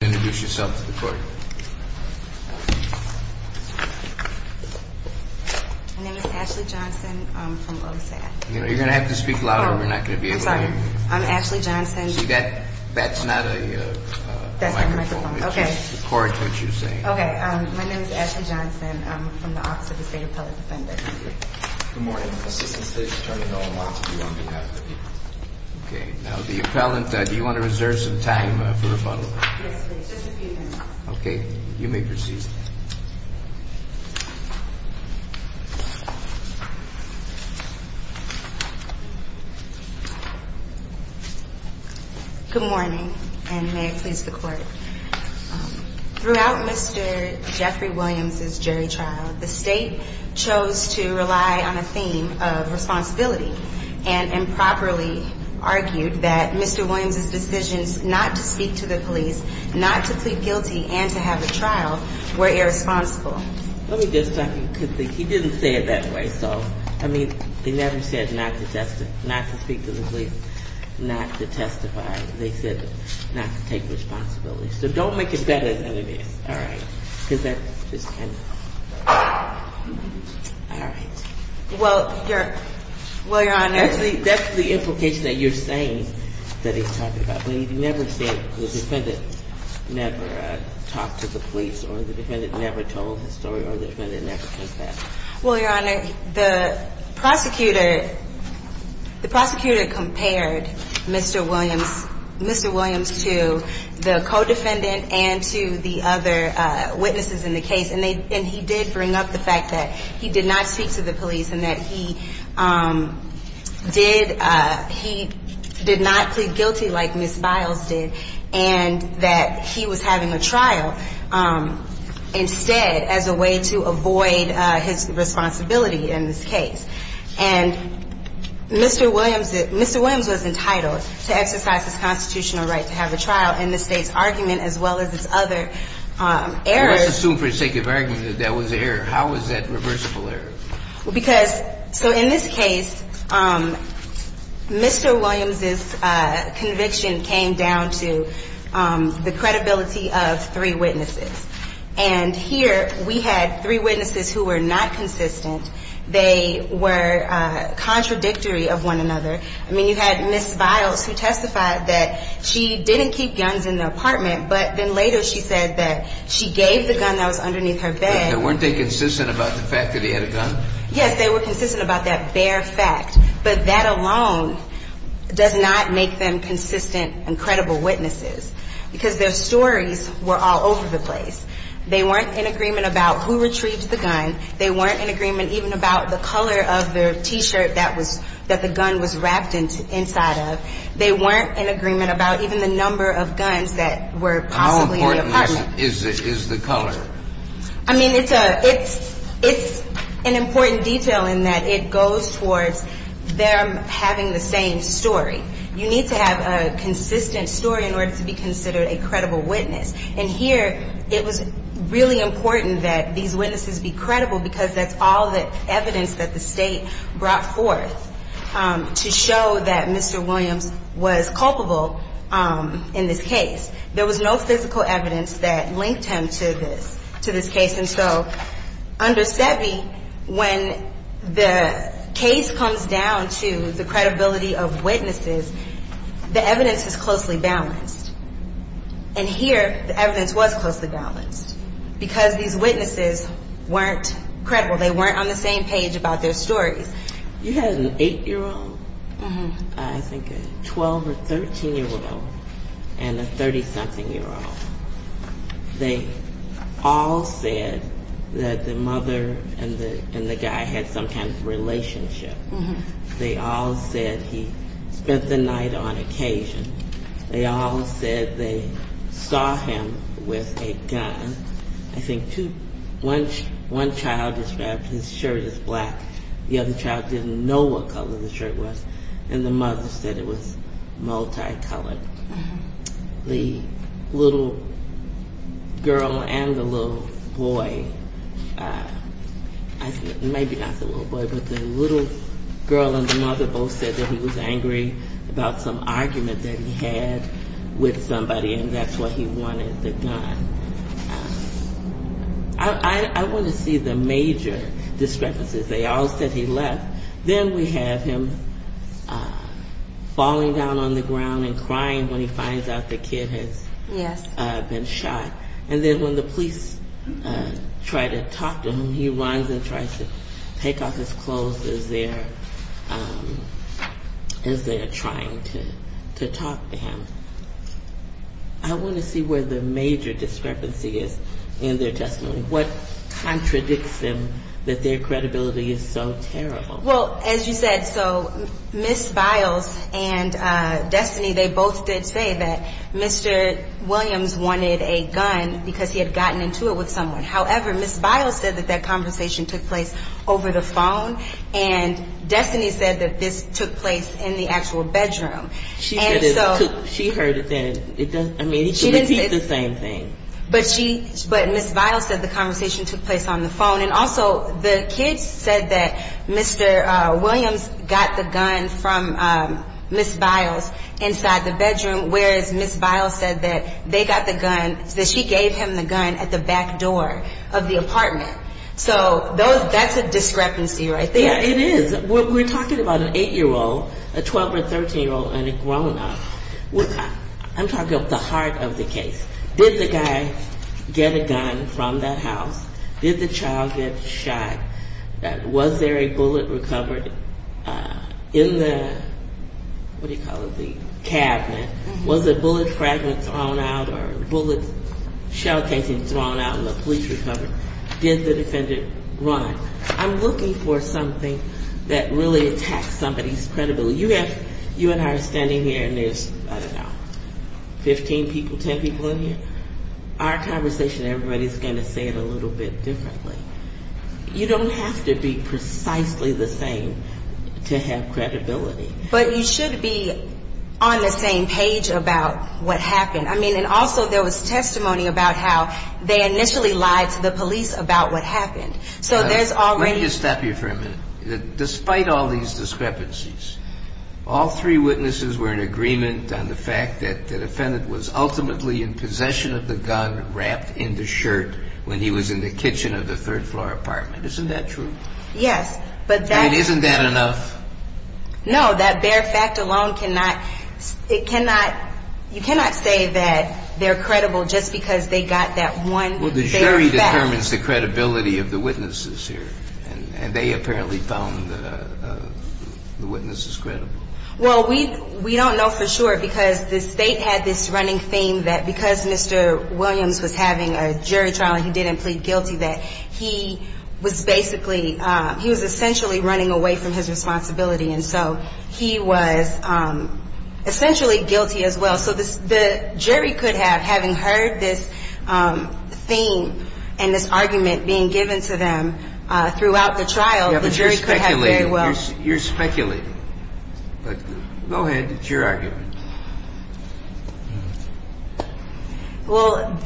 Introduce yourself to the court. My name is Ashley Johnson. I'm from OSAD. You're going to have to speak louder or you're not going to be able to hear me. I'm Ashley Johnson. See, that's not a microphone. It's just the court that you're saying. Okay. My name is Ashley Johnson. I'm from the Office of the State Appellate Defender. Good morning. Assistant State Attorney Noah Montague on behalf of the people. Okay. Now the appellant, do you want to reserve some time for rebuttal? Yes, please. Just a few minutes. Okay. You may proceed. Good morning, and may it please the court. Throughout Mr. Jeffrey Williams' jury trial, the state chose to rely on a theme of responsibility and improperly argued that Mr. Williams' decisions not to speak to the police, not to plead guilty, and to have a trial were irresponsible. Let me just tell you, because he didn't say it that way. So, I mean, they never said not to speak to the police, not to testify. They said not to take responsibility. So don't make it better than it is. All right. Because that's just kind of... All right. Well, Your Honor... That's the implication that you're saying that he's talking about. But he never said the defendant never talked to the police, or the defendant never told his story, or the defendant never did that. Well, Your Honor, the prosecutor compared Mr. Williams to the co-defendant and to the other witnesses in the case. And he did bring up the fact that he did not speak to the police, and that he did not plead guilty like Ms. Biles did, and that he was having a trial instead as a way to avoid his responsibility in this case. And Mr. Williams was entitled to exercise his constitutional right to have a trial in the state's argument as well as its other errors. But let's assume for the sake of argument that that was an error. How was that reversible error? Because so in this case, Mr. Williams' conviction came down to the credibility of three witnesses. And here we had three witnesses who were not consistent. They were contradictory of one another. I mean, you had Ms. Biles who testified that she didn't keep guns in the apartment, but then later she said that she gave the gun that was underneath her bed. Weren't they consistent about the fact that he had a gun? Yes, they were consistent about that bare fact. But that alone does not make them consistent and credible witnesses because their stories were all over the place. They weren't in agreement about who retrieved the gun. They weren't in agreement even about the color of the T-shirt that the gun was wrapped inside of. They weren't in agreement about even the number of guns that were possibly in the apartment. How important is the color? I mean, it's an important detail in that it goes towards them having the same story. You need to have a consistent story in order to be considered a credible witness. And here it was really important that these witnesses be credible because that's all the evidence that the state brought forth to show that Mr. Williams was culpable in this case. There was no physical evidence that linked him to this case. And so under SEBI, when the case comes down to the credibility of witnesses, the evidence is closely balanced. And here the evidence was closely balanced because these witnesses weren't credible. They weren't on the same page about their stories. You had an 8-year-old, I think a 12- or 13-year-old, and a 30-something-year-old. They all said that the mother and the guy had some kind of relationship. They all said he spent the night on occasion. They all said they saw him with a gun. I think one child described his shirt as black. The other child didn't know what color the shirt was. And the mother said it was multicolored. The little girl and the little boy, maybe not the little boy, but the little girl and the mother both said that he was angry about some argument that he had with somebody, and that's why he wanted the gun. I want to see the major discrepancies. They all said he left. Then we have him falling down on the ground and crying when he finds out the kid has been shot. And then when the police try to talk to him, he runs and tries to take off his clothes as they are trying to talk to him. I want to see where the major discrepancy is in their testimony. What contradicts them that their credibility is so terrible? Well, as you said, so Ms. Biles and Destiny, they both did say that Mr. Williams wanted a gun because he had gotten into it with someone. However, Ms. Biles said that that conversation took place over the phone, and Destiny said that this took place in the actual bedroom. She heard it then. I mean, he could repeat the same thing. But Ms. Biles said the conversation took place on the phone. And also, the kids said that Mr. Williams got the gun from Ms. Biles inside the bedroom, whereas Ms. Biles said that they got the gun, that she gave him the gun at the back door of the apartment. So that's a discrepancy right there. It is. We're talking about an 8-year-old, a 12- or 13-year-old, and a grown-up. I'm talking about the heart of the case. Did the guy get a gun from that house? Did the child get shot? Was there a bullet recovered in the cabinet? Was a bullet fragment thrown out or a bullet shell casing thrown out and the police recovered? Did the defendant run? I'm looking for something that really attacks somebody's credibility. You and I are standing here, and there's, I don't know, 15 people, 10 people in here. Our conversation, everybody's going to say it a little bit differently. You don't have to be precisely the same to have credibility. But you should be on the same page about what happened. I mean, and also there was testimony about how they initially lied to the police about what happened. So there's already – Let me just stop you for a minute. Despite all these discrepancies, all three witnesses were in agreement on the fact that the defendant was ultimately in possession of the gun wrapped in the shirt when he was in the kitchen of the third-floor apartment. Isn't that true? Yes, but that – I mean, isn't that enough? No, that bare fact alone cannot – it cannot – you cannot say that they're credible just because they got that one bare fact. It only determines the credibility of the witnesses here. And they apparently found the witnesses credible. Well, we don't know for sure because the State had this running theme that because Mr. Williams was having a jury trial and he didn't plead guilty, that he was basically – he was essentially running away from his responsibility. And so he was essentially guilty as well. So the jury could have, having heard this theme and this argument being given to them throughout the trial, the jury could have very well – Yeah, but you're speculating. You're speculating. But go ahead. It's your argument. Well,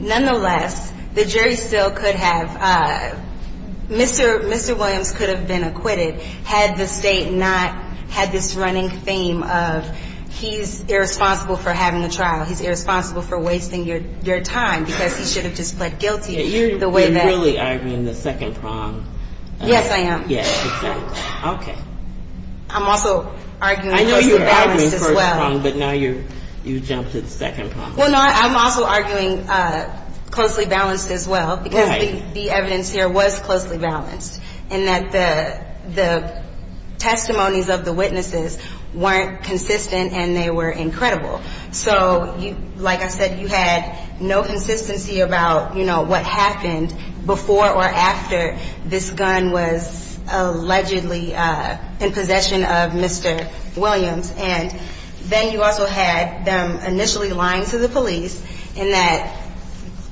nonetheless, the jury still could have – Mr. Williams could have been acquitted had the State not had this running theme of he's irresponsible for having a trial, he's irresponsible for wasting your time because he should have just pled guilty the way that – Yeah, you're really arguing the second prong. Yes, I am. Yes, exactly. Okay. I'm also arguing closely balanced as well. I know you're arguing the first prong, but now you've jumped to the second prong. Well, no, I'm also arguing closely balanced as well because the evidence here was closely balanced in that the – the testimonies of the witnesses weren't consistent and they were incredible. So, like I said, you had no consistency about, you know, what happened before or after this gun was allegedly in possession of Mr. Williams. And then you also had them initially lying to the police in that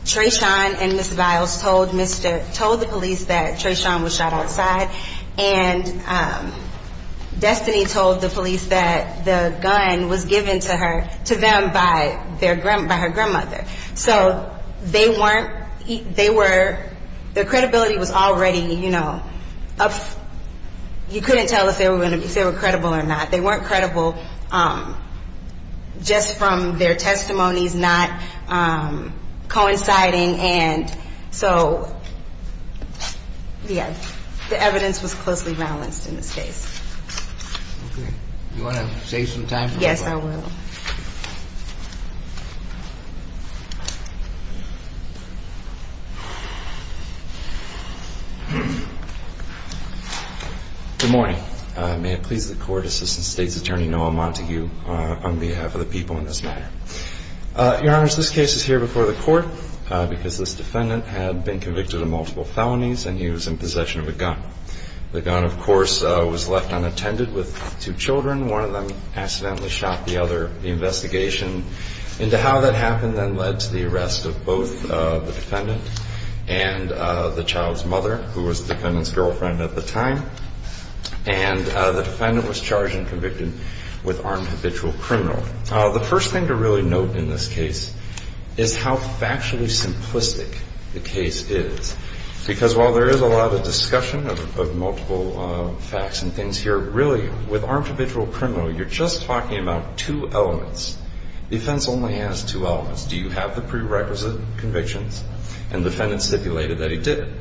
Treshawn and Ms. Biles told Mr. – told the police that Treshawn was shot outside. And Destiny told the police that the gun was given to her – to them by their – by her grandmother. So they weren't – they were – their credibility was already, you know, up – you couldn't tell if they were credible or not. They weren't credible just from their testimonies not coinciding. And so, yes, the evidence was closely balanced in this case. Okay. Do you want to save some time for one more? Yes, I will. Good morning. May it please the Court, Assistant State's Attorney Noah Montague, on behalf of the people in this matter. Your Honors, this case is here before the Court because this defendant had been convicted of multiple felonies and he was in possession of a gun. The gun, of course, was left unattended with two children. One of them accidentally shot the other. The investigation into how that happened then led to the arrest of both the defendant and the child's mother, who was the defendant's girlfriend at the time. And the defendant was charged and convicted with armed habitual criminal. The first thing to really note in this case is how factually simplistic the case is. Because while there is a lot of discussion of multiple facts and things here, really, with armed habitual criminal, you're just talking about two elements. The offense only has two elements. Do you have the prerequisite convictions? And the defendant stipulated that he did.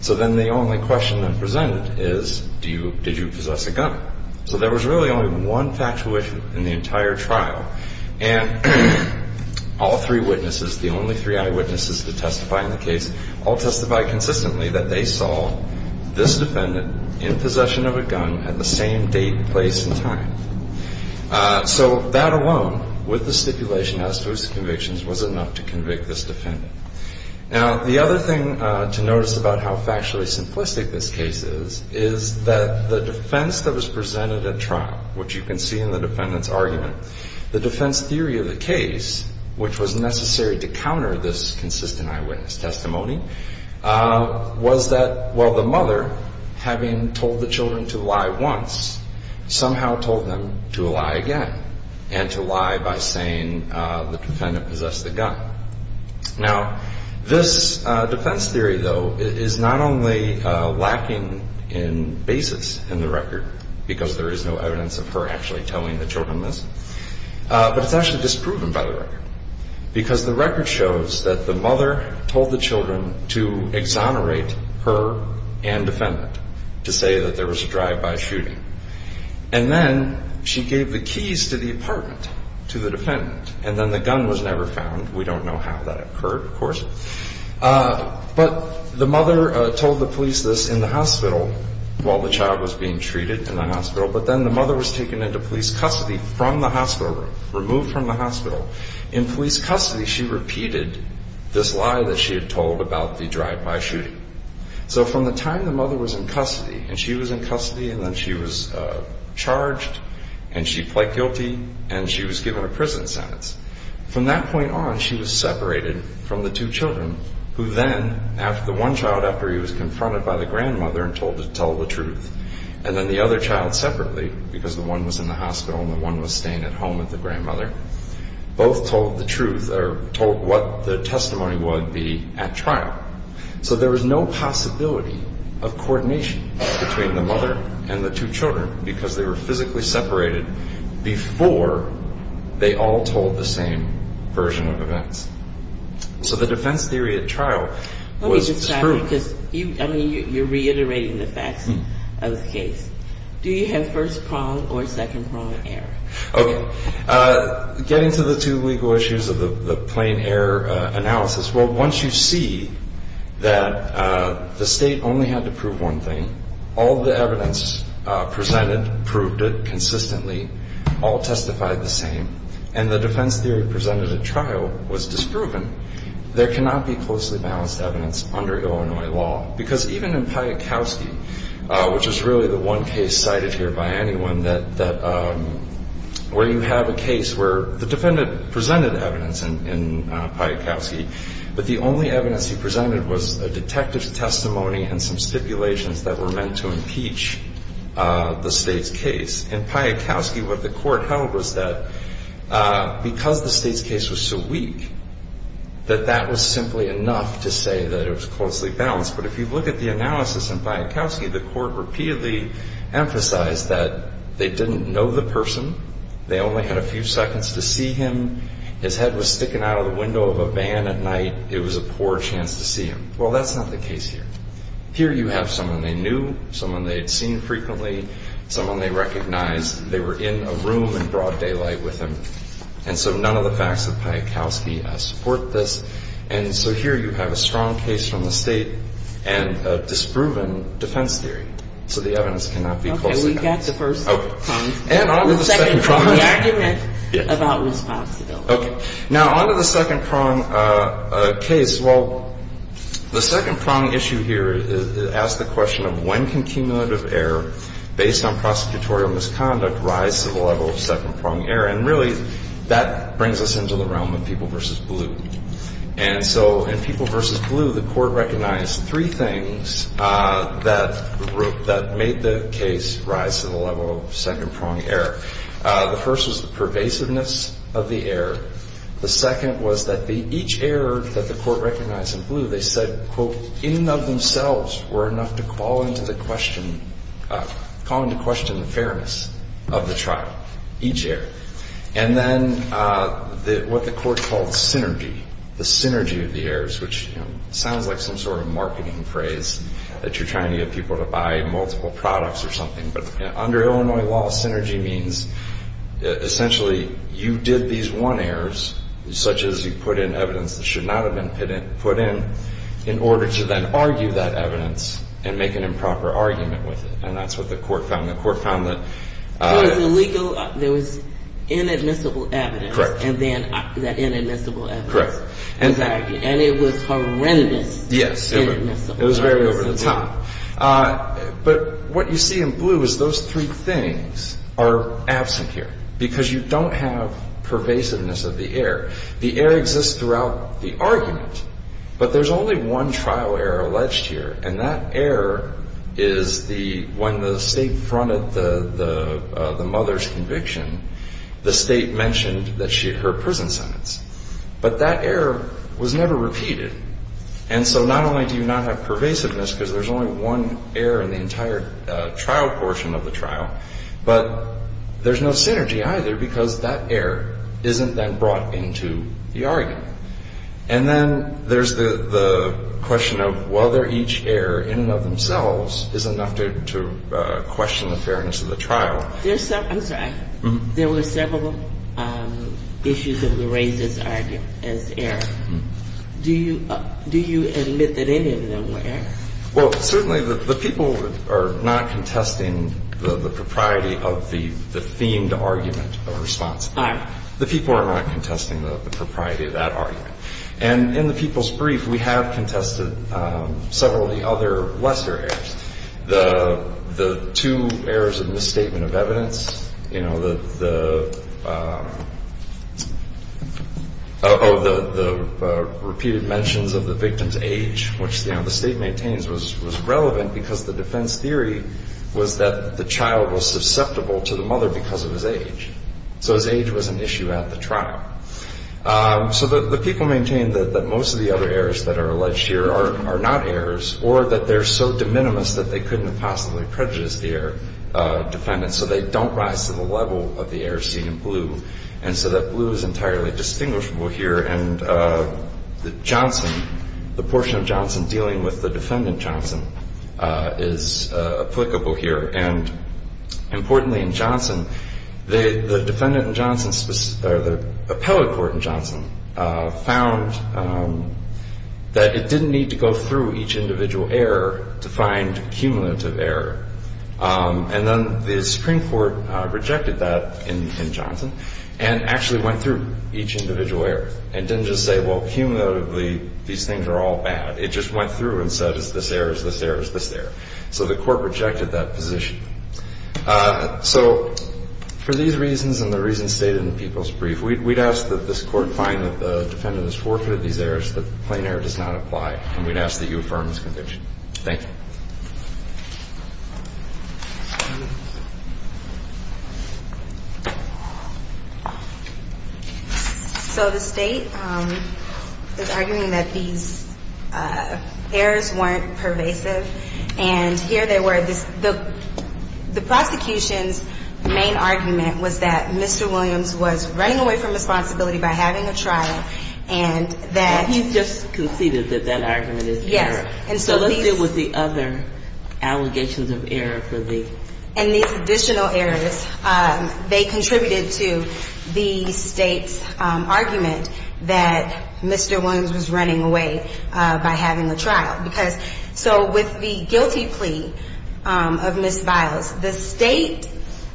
So then the only question then presented is, do you – did you possess a gun? So there was really only one factual issue in the entire trial. And all three witnesses, the only three eyewitnesses to testify in the case, all testified consistently that they saw this defendant in possession of a gun at the same date, place, and time. So that alone, with the stipulation as to his convictions, was enough to convict this defendant. Now, the other thing to notice about how factually simplistic this case is, is that the defense that was presented at trial, which you can see in the defendant's argument, the defense theory of the case, which was necessary to counter this consistent eyewitness testimony, was that, well, the mother, having told the children to lie once, somehow told them to lie again, and to lie by saying the defendant possessed the gun. Now, this defense theory, though, is not only lacking in basis in the record, because there is no evidence of her actually telling the children this, but it's actually disproven by the record, because the record shows that the mother told the children to exonerate her and defendant, to say that there was a drive-by shooting. And then she gave the keys to the apartment to the defendant, and then the gun was never found. We don't know how that occurred, of course. But the mother told the police this in the hospital while the child was being treated in the hospital, but then the mother was taken into police custody from the hospital room, removed from the hospital. In police custody, she repeated this lie that she had told about the drive-by shooting. So from the time the mother was in custody, and she was in custody, and then she was charged, and she pled guilty, and she was given a prison sentence. From that point on, she was separated from the two children, who then, after the one child, after he was confronted by the grandmother and told to tell the truth, and then the other child separately, because the one was in the hospital and the one was staying at home with the grandmother, both told the truth, or told what the testimony would be at trial. So there was no possibility of coordination between the mother and the two children because they were physically separated before they all told the same version of events. So the defense theory at trial was disproven. Let me just add, because you're reiterating the facts of the case. Do you have first prong or second prong error? Okay. Getting to the two legal issues of the plain error analysis, well, once you see that the state only had to prove one thing, all the evidence presented proved it consistently, all testified the same, and the defense theory presented at trial was disproven, there cannot be closely balanced evidence under Illinois law. Because even in Piatkowski, which is really the one case cited here by anyone, where you have a case where the defendant presented evidence in Piatkowski, but the only evidence he presented was a detective's testimony and some stipulations that were meant to impeach the state's case. In Piatkowski, what the court held was that because the state's case was so weak, that that was simply enough to say that it was closely balanced. But if you look at the analysis in Piatkowski, the court repeatedly emphasized that they didn't know the person. They only had a few seconds to see him. His head was sticking out of the window of a van at night. It was a poor chance to see him. Well, that's not the case here. Here you have someone they knew, someone they had seen frequently, someone they recognized. They were in a room in broad daylight with him. And so none of the facts of Piatkowski support this. And so here you have a strong case from the state and a disproven defense theory. So the evidence cannot be closely balanced. Okay. We've got the first prong. And on to the second prong. The second prong is the argument about responsibility. Okay. Now, on to the second prong case. Well, the second prong issue here asks the question of when can cumulative error, based on prosecutorial misconduct, rise to the level of second prong error. And really, that brings us into the realm of people versus blue. And so in people versus blue, the court recognized three things that made the case rise to the level of second prong error. The first was the pervasiveness of the error. The second was that each error that the court recognized in blue, they said, quote, in and of themselves were enough to call into question the fairness of the trial, each error. And then what the court called synergy, the synergy of the errors, which sounds like some sort of marketing phrase that you're trying to get people to buy multiple products or something. But under Illinois law, synergy means essentially you did these one errors, such as you put in evidence that should not have been put in, in order to then argue that evidence and make an improper argument with it. And that's what the court found. And the court found that. It was illegal. There was inadmissible evidence. Correct. And then the inadmissible evidence. Correct. And it was horrendous. Yes. Inadmissible. It was very over the top. But what you see in blue is those three things are absent here, because you don't have pervasiveness of the error. The error exists throughout the argument, but there's only one trial error alleged here, and that error is when the state fronted the mother's conviction, the state mentioned that she had her prison sentence. But that error was never repeated. And so not only do you not have pervasiveness, because there's only one error in the entire trial portion of the trial, but there's no synergy either because that error isn't then brought into the argument. And then there's the question of whether each error in and of themselves is enough to question the fairness of the trial. I'm sorry. There were several issues that were raised as error. Do you admit that any of them were error? Well, certainly the people are not contesting the propriety of the themed argument of response. All right. The people are not contesting the propriety of that argument. And in the people's brief, we have contested several of the other lesser errors. The two errors of misstatement of evidence, you know, the repeated mentions of the victim's age, which the state maintains was relevant because the defense theory was that the child was susceptible to the mother because of his age. So his age was an issue at the trial. So the people maintain that most of the other errors that are alleged here are not errors or that they're so de minimis that they couldn't have possibly prejudiced the defendant. So they don't rise to the level of the error seen in blue. And so that blue is entirely distinguishable here. And Johnson, the portion of Johnson dealing with the defendant Johnson, is applicable here. And importantly in Johnson, the defendant in Johnson's, or the appellate court in Johnson, found that it didn't need to go through each individual error to find cumulative error. And then the Supreme Court rejected that in Johnson and actually went through each individual error and didn't just say, well, cumulatively, these things are all bad. It just went through and said, is this error, is this error, is this error? So the court rejected that position. So for these reasons and the reasons stated in the people's brief, we'd ask that this court find that the defendant has forfeited these errors, that plain error does not apply. And we'd ask that you affirm this conviction. Thank you. So the State is arguing that these errors weren't pervasive. And here they were. The prosecution's main argument was that Mr. Williams was running away from responsibility by having a trial and that he's just conceded that that argument is correct. Yes. So let's deal with the other allegations of error. And these additional errors, they contributed to the State's argument that Mr. Williams was running away by having a trial. So with the guilty plea of Ms. Biles, the State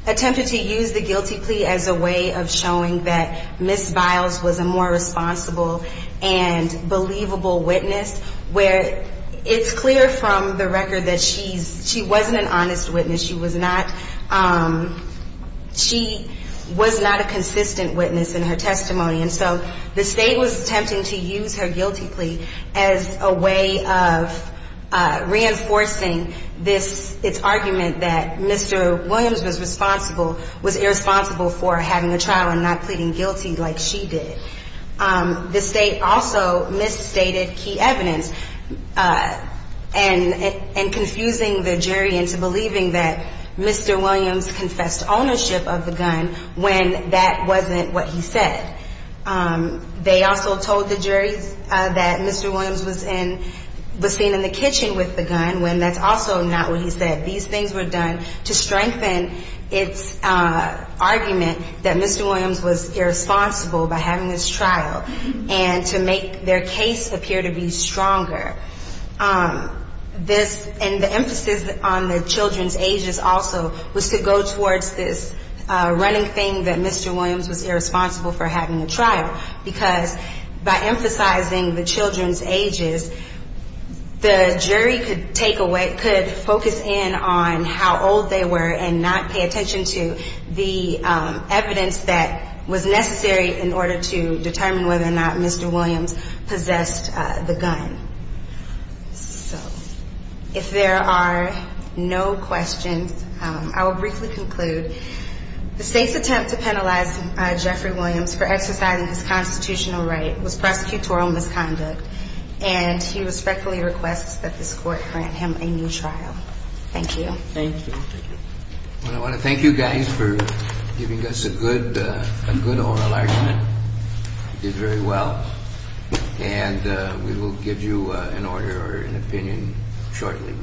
attempted to use the guilty plea as a way of showing that Ms. Biles was a more responsible and believable witness, where it's clear from the record that she wasn't an honest witness. She was not a consistent witness in her testimony. And so the State was attempting to use her guilty plea as a way of reinforcing its argument that Mr. Williams was irresponsible for having a trial and not pleading guilty like she did. The State also misstated key evidence and confusing the jury into believing that Mr. Williams confessed ownership of the gun when that wasn't what he said. They also told the jury that Mr. Williams was seen in the kitchen with the gun when that's also not what he said. These things were done to strengthen its argument that Mr. Williams was irresponsible by having this trial and to make their case appear to be stronger. And the emphasis on the children's ages also was to go towards this running thing that Mr. Williams was irresponsible for having a trial and not pleading guilty. And so the State's attempt to penalize Jeffrey Williams for exercising his constitutional right was prosecutorial misconduct, and he respectfully requests that this Court grant him a new trial. Thank you. Well, I want to thank you guys for giving us a good oral argument. You did very well. And we will give you an order or an opinion shortly.